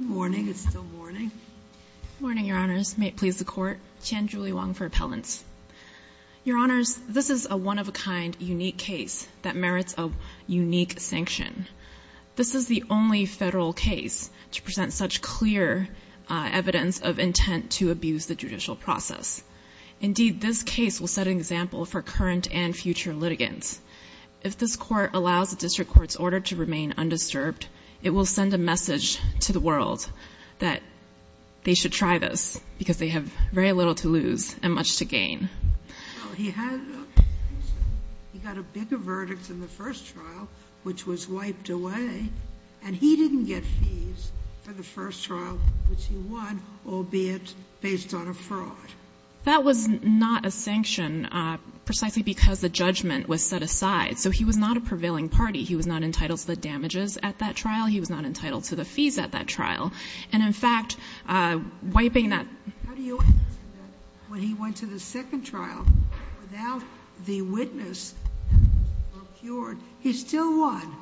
Morning. It's still morning. Morning, Your Honors. May it please the Court. Qian Julie Wang for Appellants. Your Honors, this is a one-of-a-kind unique case that merits a unique sanction. This is the only federal case to present such clear evidence of intent to abuse the judicial process. Indeed, this case will set an example for current and future litigants. If this Court allows the district court's order to remain undisturbed, it will send a message to the world that they should try this because they have very little to lose and much to gain. He got a bigger verdict than the first trial, which was wiped away, and he didn't get fees for the first trial, which he won, albeit based on a fraud. That was not a sanction precisely because the judgment was set aside, so he was not a prevailing party. He was not entitled to the damages at that trial. He was not entitled to the fees at that trial. And, in fact, wiping that— How do you answer that? When he went to the second trial without the witness, he still won.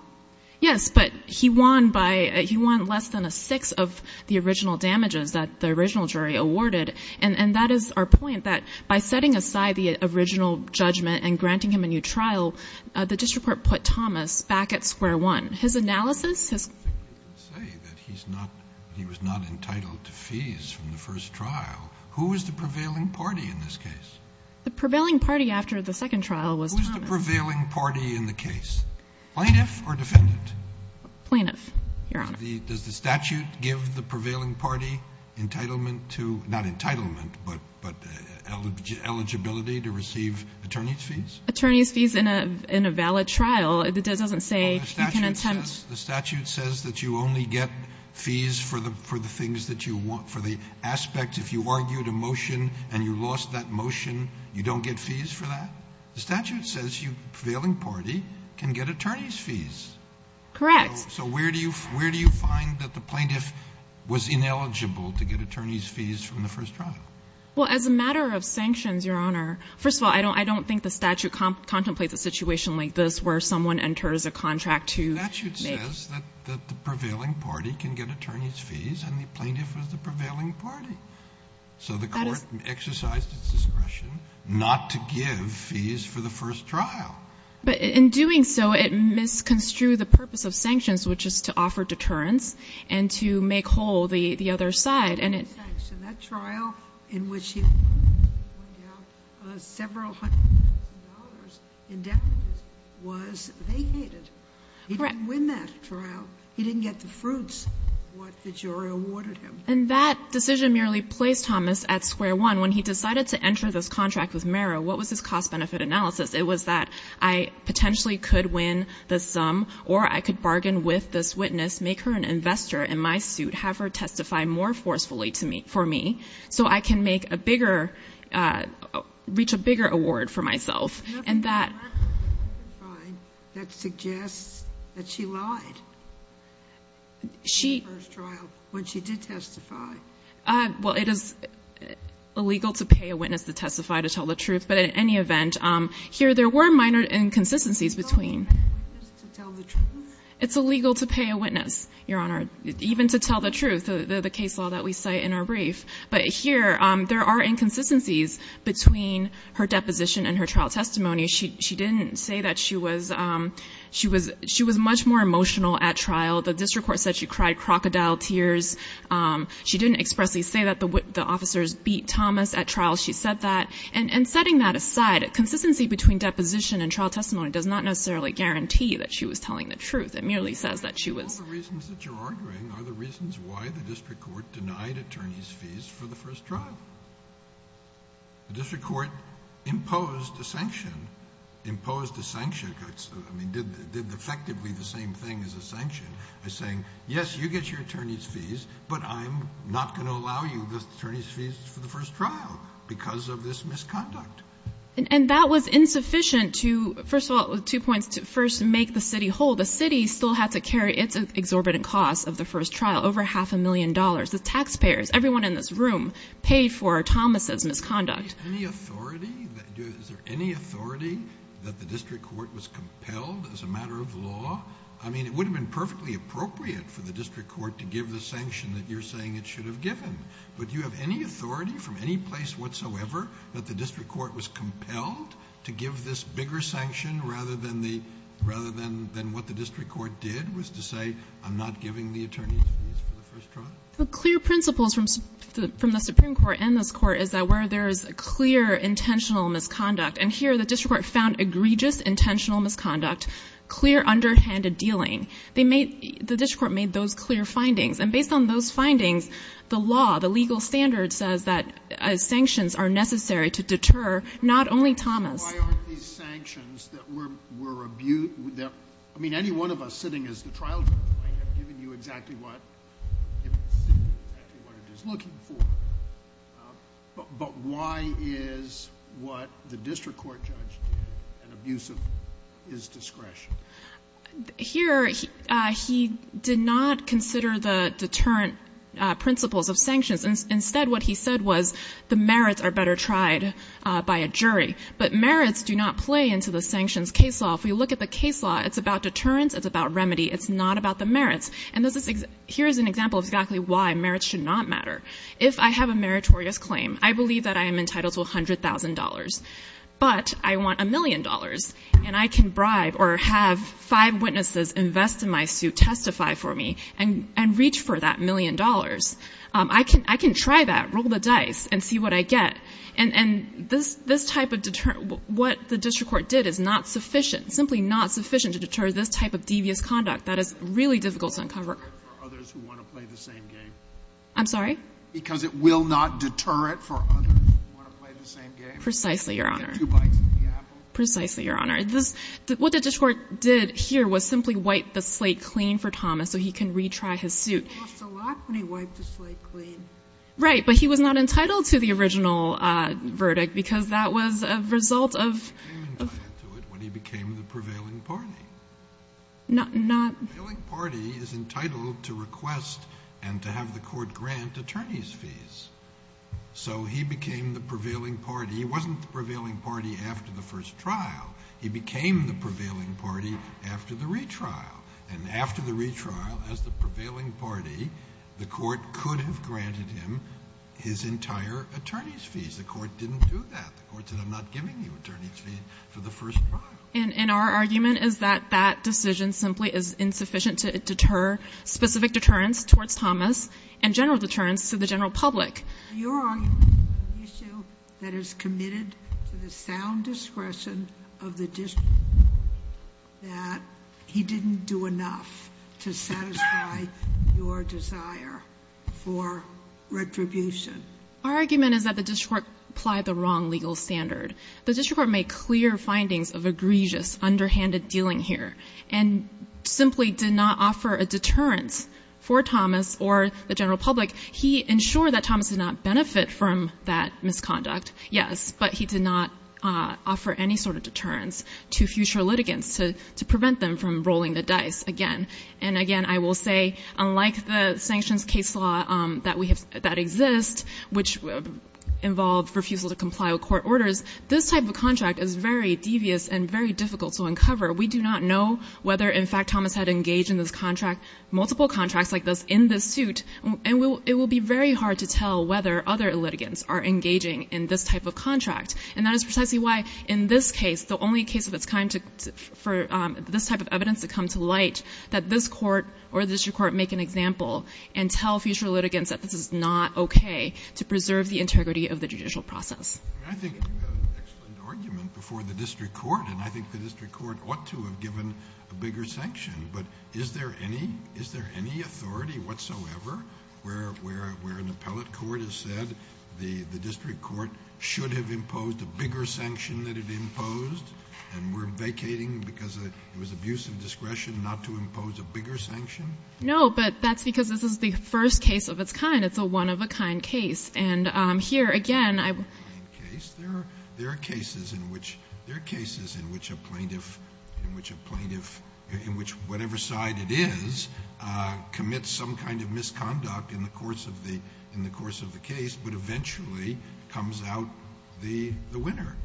Yes, but he won by—he won less than a sixth of the original damages that the original jury awarded. And that is our point, that by setting aside the original judgment and granting him a new trial, the district court put Thomas back at square one. His analysis, his— I think you can say that he's not—he was not entitled to fees from the first trial. Who was the prevailing party in this case? The prevailing party after the second trial was Thomas. Who was the prevailing party in the case, plaintiff or defendant? Plaintiff, Your Honor. Does the statute give the prevailing party entitlement to—not entitlement, but eligibility to receive attorney's fees? Attorney's fees in a valid trial. It doesn't say you can attempt— The statute says that you only get fees for the things that you want, for the aspects. If you argued a motion and you lost that motion, you don't get fees for that? The statute says the prevailing party can get attorney's fees. Correct. So where do you find that the plaintiff was ineligible to get attorney's fees from the first trial? Well, as a matter of sanctions, Your Honor, first of all, I don't think the statute contemplates a situation like this where someone enters a contract to make— The statute says that the prevailing party can get attorney's fees, and the plaintiff was the prevailing party. So the court exercised its discretion not to give fees for the first trial. But in doing so, it misconstrued the purpose of sanctions, which is to offer deterrence and to make whole the other side, and it— That trial in which he won several hundred thousand dollars in damages was vacated. Correct. He didn't win that trial. He didn't get the fruits of what the jury awarded him. And that decision merely placed Thomas at square one. And when he decided to enter this contract with Merrill, what was his cost-benefit analysis? It was that I potentially could win the sum, or I could bargain with this witness, make her an investor in my suit, have her testify more forcefully for me, so I can make a bigger—reach a bigger award for myself. And that— That suggests that she lied in the first trial when she did testify. Well, it is illegal to pay a witness to testify to tell the truth. But in any event, here there were minor inconsistencies between— It's illegal to pay a witness to tell the truth? It's illegal to pay a witness, Your Honor, even to tell the truth, the case law that we cite in our brief. But here there are inconsistencies between her deposition and her trial testimony. She didn't say that she was—she was much more emotional at trial. The district court said she cried crocodile tears. She didn't expressly say that the officers beat Thomas at trial. She said that. And setting that aside, consistency between deposition and trial testimony does not necessarily guarantee that she was telling the truth. It merely says that she was— All the reasons that you're arguing are the reasons why the district court denied attorneys' fees for the first trial. The district court imposed a sanction, imposed a sanction. I mean, did effectively the same thing as a sanction by saying, yes, you get your attorneys' fees, but I'm not going to allow you the attorneys' fees for the first trial because of this misconduct. And that was insufficient to—first of all, two points. First, make the city whole. The city still had to carry its exorbitant costs of the first trial, over half a million dollars. The taxpayers, everyone in this room paid for Thomas's misconduct. Is there any authority that the district court was compelled as a matter of law? I mean, it would have been perfectly appropriate for the district court to give the sanction that you're saying it should have given. But do you have any authority from any place whatsoever that the district court was compelled to give this bigger sanction rather than what the district court did was to say, I'm not giving the attorneys' fees for the first trial? The clear principles from the Supreme Court and this Court is that where there is clear intentional misconduct, and here the district court found egregious intentional misconduct, clear underhanded dealing, they made the district court made those clear findings. And based on those findings, the law, the legal standard says that sanctions are necessary to deter not only Thomas. Why aren't these sanctions that were abused? I mean, any one of us sitting as the trial judge might have given you exactly what it is looking for. But why is what the district court judge did an abuse of his discretion? Here, he did not consider the deterrent principles of sanctions. Instead, what he said was the merits are better tried by a jury. But merits do not play into the sanctions case law. If we look at the case law, it's about deterrence. It's about remedy. It's not about the merits. And here's an example of exactly why merits should not matter. If I have a meritorious claim, I believe that I am entitled to $100,000. But I want a million dollars, and I can bribe or have five witnesses invest in my suit, testify for me, and reach for that million dollars. I can try that, roll the dice, and see what I get. And this type of deterrent, what the district court did is not sufficient, simply not sufficient to deter this type of devious conduct that is really difficult to uncover. I'm sorry? Because it will not deter it for others who want to play the same game. Precisely, Your Honor. Precisely, Your Honor. What the district court did here was simply wipe the slate clean for Thomas so he can retry his suit. He lost a lot when he wiped the slate clean. Right. But he was not entitled to the original verdict because that was a result of... He became entitled to it when he became the prevailing party. Not... The prevailing party is entitled to request and to have the court grant attorney's fees. So he became the prevailing party. He wasn't the prevailing party after the first trial. He became the prevailing party after the retrial. And after the retrial, as the prevailing party, the court could have granted him his entire attorney's fees. The court didn't do that. The court said, I'm not giving you attorney's fees for the first trial. And our argument is that that decision simply is insufficient to deter specific deterrents towards Thomas and general deterrents to the general public. Your argument is an issue that is committed to the sound discretion of the district court that he didn't do enough to satisfy your desire for retribution. Our argument is that the district court applied the wrong legal standard. The district court made clear findings of egregious underhanded dealing here and simply did not offer a deterrent for Thomas or the general public. He ensured that Thomas did not benefit from that misconduct, yes, but he did not offer any sort of deterrence to future litigants to prevent them from rolling the dice again. And, again, I will say, unlike the sanctions case law that exists, which involved refusal to comply with court orders, this type of contract is very devious and very difficult to uncover. We do not know whether, in fact, Thomas had engaged in this contract, multiple contracts like this, in this suit. And it will be very hard to tell whether other litigants are engaging in this type of contract. And that is precisely why, in this case, the only case of its kind for this type of evidence to come to light, that this court or the district court make an example and tell future litigants that this is not okay to preserve the integrity of the judicial process. I think you have an excellent argument before the district court, and I think the district court ought to have given a bigger sanction. But is there any authority whatsoever where an appellate court has said the district court should have imposed a bigger sanction than it imposed, and we're vacating because it was abuse of discretion not to impose a bigger sanction? No, but that's because this is the first case of its kind. It's a one-of-a-kind case. And here, again, I will ---- There are cases in which a plaintiff, in which a plaintiff, in which whatever side it is, commits some kind of misconduct in the course of the case, but eventually comes out the winner.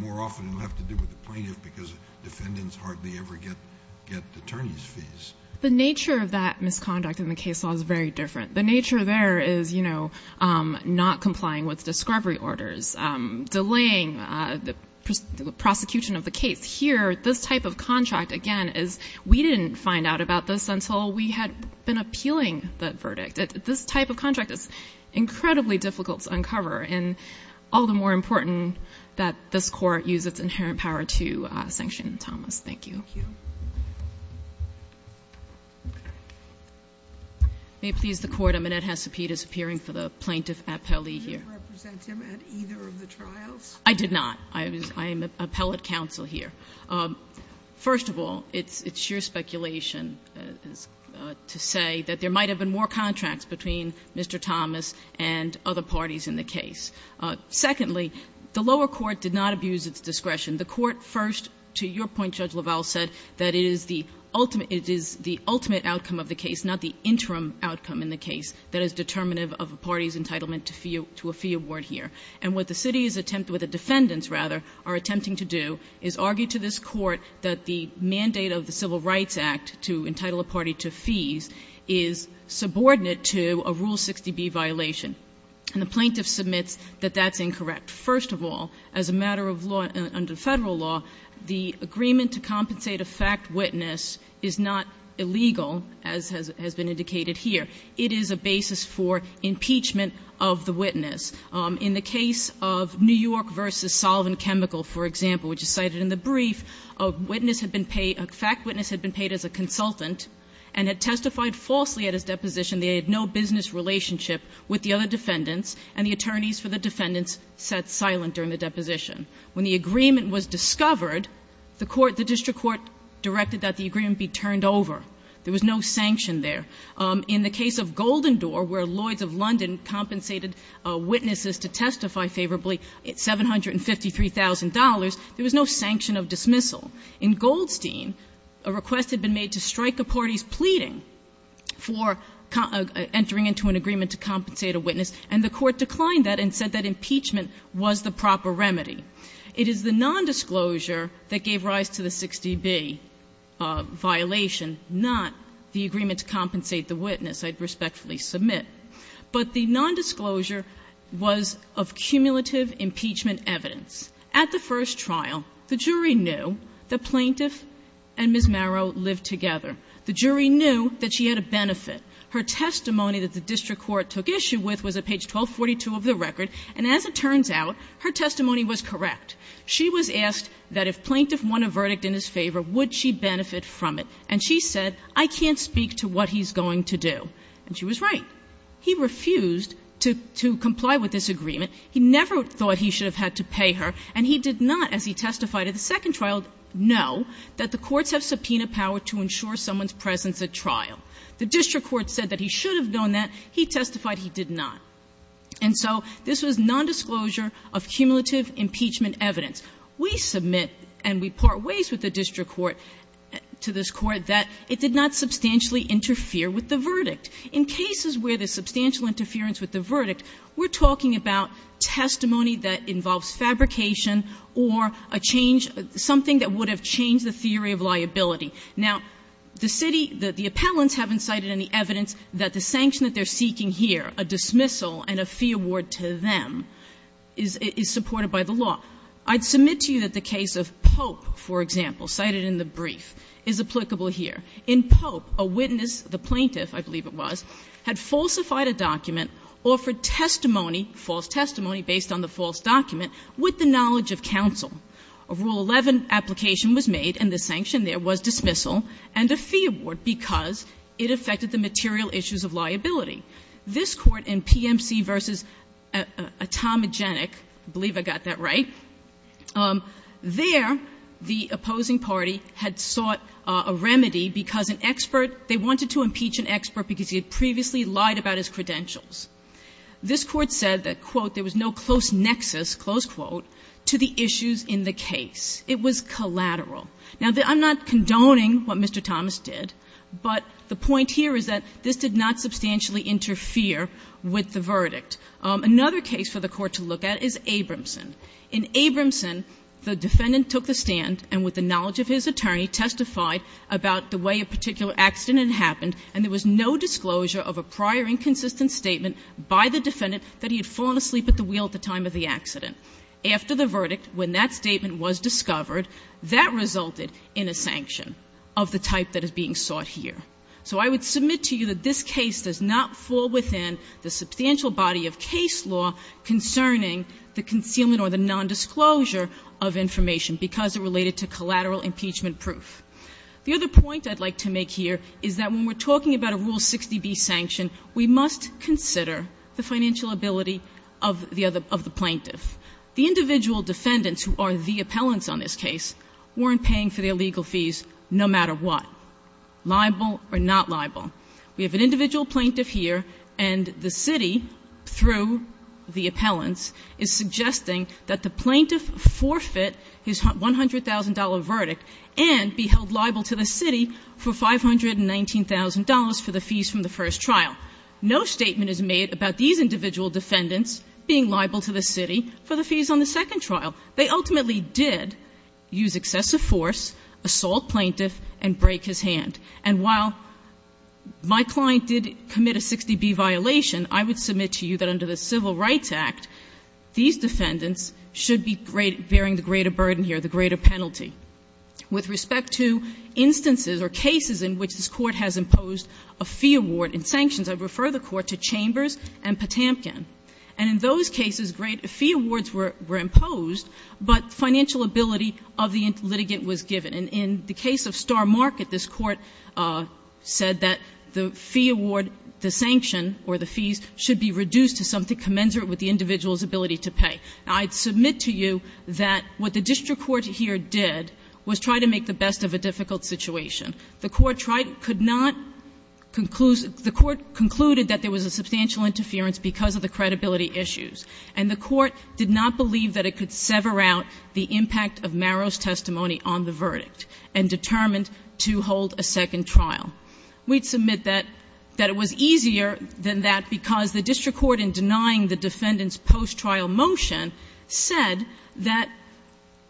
More often, it will have to do with the plaintiff because defendants hardly ever get attorney's fees. The nature of that misconduct in the case law is very different. The nature there is, you know, not complying with discovery orders, delaying the prosecution of the case. Here, this type of contract, again, is we didn't find out about this until we had been appealing the verdict. This type of contract is incredibly difficult to uncover, and all the more important that this court use its inherent power to sanction Thomas. Thank you. Thank you. May it please the Court? Amanette Hesapete is appearing for the plaintiff appellee here. Did you represent him at either of the trials? I did not. I am appellate counsel here. First of all, it's sheer speculation to say that there might have been more contracts between Mr. Thomas and other parties in the case. Secondly, the lower court did not abuse its discretion. The court first, to your point, Judge LaValle, said that it is the ultimate outcome of the case, not the interim outcome in the case, that is determinative of a party's entitlement to a fee award here. And what the city's attempt with the defendants, rather, are attempting to do is argue to this court that the mandate of the Civil Rights Act to entitle a party to fees is subordinate to a Rule 60B violation. And the plaintiff submits that that's incorrect. First of all, as a matter of law under Federal law, the agreement to compensate a fact witness is not illegal, as has been indicated here. It is a basis for impeachment of the witness. In the case of New York v. Solvent Chemical, for example, which is cited in the brief, a witness had been paid, a fact witness had been paid as a consultant and had testified falsely at his deposition that he had no business relationship with the other defendants and the attorneys for the defendants sat silent during the deposition. When the agreement was discovered, the court, the district court directed that the agreement be turned over. There was no sanction there. In the case of Golden Door, where Lloyds of London compensated witnesses to testify favorably at $753,000, there was no sanction of dismissal. In Goldstein, a request had been made to strike a party's pleading for entering into an agreement to compensate a witness, and the court declined that and said that impeachment was the proper remedy. It is the nondisclosure that gave rise to the 60B violation, not the agreement to compensate the witness, I'd respectfully submit. But the nondisclosure was of cumulative impeachment evidence. At the first trial, the jury knew that Plaintiff and Ms. Marrow lived together. The jury knew that she had a benefit. Her testimony that the district court took issue with was at page 1242 of the record, and as it turns out, her testimony was correct. She was asked that if Plaintiff won a verdict in his favor, would she benefit from it, and she said, I can't speak to what he's going to do. And she was right. He refused to comply with this agreement. He never thought he should have had to pay her, and he did not, as he testified at the second trial, know that the courts have subpoena power to ensure someone's presence at trial. The district court said that he should have known that. He testified he did not. And so this was nondisclosure of cumulative impeachment evidence. We submit and we part ways with the district court to this Court that it did not substantially interfere with the verdict. In cases where there's substantial interference with the verdict, we're talking about testimony that involves fabrication or a change, something that would have changed the theory of liability. Now, the city, the appellants haven't cited any evidence that the sanction that they're seeking here, a dismissal and a fee award to them, is supported by the law. I'd submit to you that the case of Pope, for example, cited in the brief, is applicable here. In Pope, a witness, the plaintiff, I believe it was, had falsified a document, offered testimony, false testimony based on the false document, with the knowledge of counsel. A Rule 11 application was made and the sanction there was dismissal and a fee award because it affected the material issues of liability. This Court in PMC v. Atomogenic, I believe I got that right, there the opposing party had sought a remedy because an expert, they wanted to impeach an expert because he had previously lied about his credentials. This Court said that, quote, there was no close nexus, close quote, to the issues in the case. It was collateral. Now, I'm not condoning what Mr. Thomas did, but the point here is that this did not substantially interfere with the verdict. Another case for the Court to look at is Abramson. In Abramson, the defendant took the stand and with the knowledge of his attorney testified about the way a particular accident had happened and there was no disclosure of a prior inconsistent statement by the defendant that he had fallen asleep at the nail at the time of the accident. After the verdict, when that statement was discovered, that resulted in a sanction of the type that is being sought here. So I would submit to you that this case does not fall within the substantial body of case law concerning the concealment or the nondisclosure of information because it related to collateral impeachment proof. The other point I'd like to make here is that when we're talking about a Rule 60B sanction, we must consider the financial ability of the plaintiff. The individual defendants who are the appellants on this case weren't paying for their legal fees no matter what, liable or not liable. We have an individual plaintiff here, and the city, through the appellants, is suggesting that the plaintiff forfeit his $100,000 verdict and be held liable to the city for $519,000 for the fees from the first trial. No statement is made about these individual defendants being liable to the city for the fees on the second trial. They ultimately did use excessive force, assault plaintiff, and break his hand. And while my client did commit a 60B violation, I would submit to you that under the Civil Rights Act, these defendants should be bearing the greater burden here, the greater penalty. With respect to instances or cases in which this Court has imposed a fee award and sanctions, I would refer the Court to Chambers and Potamkin. And in those cases, great fee awards were imposed, but financial ability of the litigant was given. And in the case of Star Market, this Court said that the fee award, the sanction or the fees should be reduced to something commensurate with the individual's ability to pay. Now, I'd submit to you that what the district court here did was try to make the best of a difficult situation. The Court tried to – could not – the Court concluded that there was a substantial interference because of the credibility issues. And the Court did not believe that it could sever out the impact of Marrow's testimony on the verdict and determined to hold a second trial. We'd submit that it was easier than that because the district court, in denying the defendant's post-trial motion, said that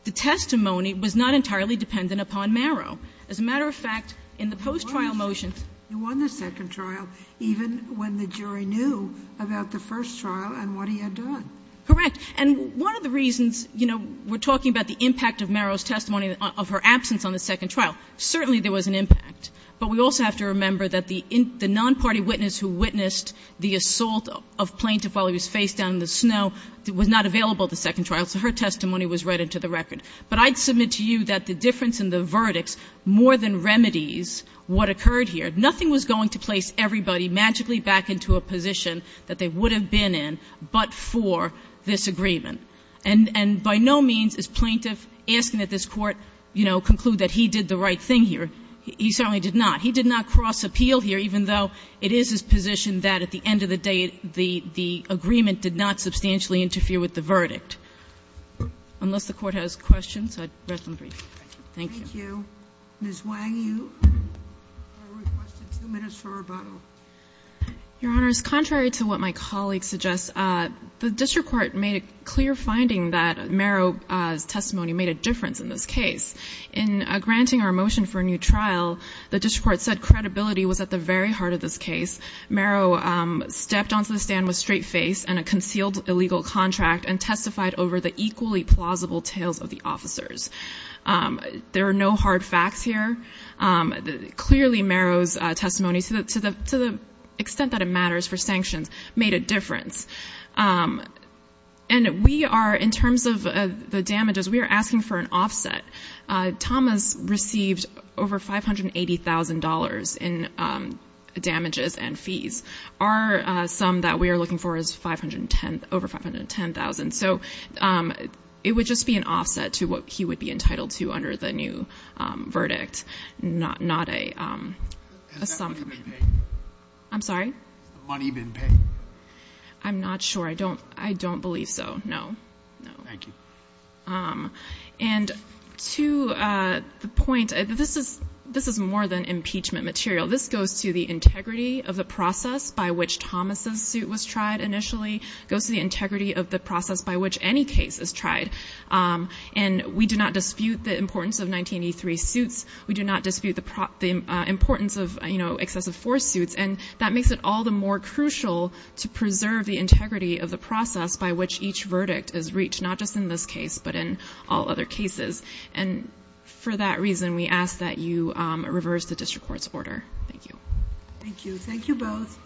the testimony was not entirely dependent upon Marrow. As a matter of fact, in the post-trial motion – You won the second trial, even when the jury knew about the first trial and what he had done. Correct. And one of the reasons, you know, we're talking about the impact of Marrow's testimony of her absence on the second trial. Certainly, there was an impact. But we also have to remember that the nonparty witness who witnessed the assault of Plaintiff while he was face down in the snow was not available at the second trial, so her testimony was read into the record. But I'd submit to you that the difference in the verdicts more than remedies what occurred here. Nothing was going to place everybody magically back into a position that they would have been in but for this agreement. And by no means is Plaintiff asking that this Court, you know, conclude that he did the right thing here. He certainly did not. He did not cross-appeal here, even though it is his position that at the end of the day, the agreement did not substantially interfere with the verdict. Unless the Court has questions, I'd rest on the brief. Thank you. Thank you. Ms. Wang, you are requested two minutes for rebuttal. Your Honor, it's contrary to what my colleague suggests. The district court made a clear finding that Marrow's testimony made a difference in this case. In granting our motion for a new trial, the district court said credibility was at the very heart of this case. Marrow stepped onto the stand with a straight face and a concealed illegal contract and testified over the equally plausible tales of the officers. There are no hard facts here. Clearly, Marrow's testimony, to the extent that it matters for sanctions, made a difference. And we are, in terms of the damages, we are asking for an offset. Thomas received over $580,000 in damages and fees. Our sum that we are looking for is over $510,000. So it would just be an offset to what he would be entitled to under the new verdict, not a sum. Has that money been paid? I'm sorry? Has the money been paid? I'm not sure. I don't believe so, no. Thank you. And to the point, this is more than impeachment material. This goes to the integrity of the process by which Thomas' suit was tried initially. It goes to the integrity of the process by which any case is tried. And we do not dispute the importance of 1983 suits. We do not dispute the importance of, you know, excessive force suits. And that makes it all the more crucial to preserve the integrity of the process by which each verdict is reached, not just in this case, but in all other cases. And for that reason, we ask that you reverse the district court's order. Thank you. Thank you. Thank you both.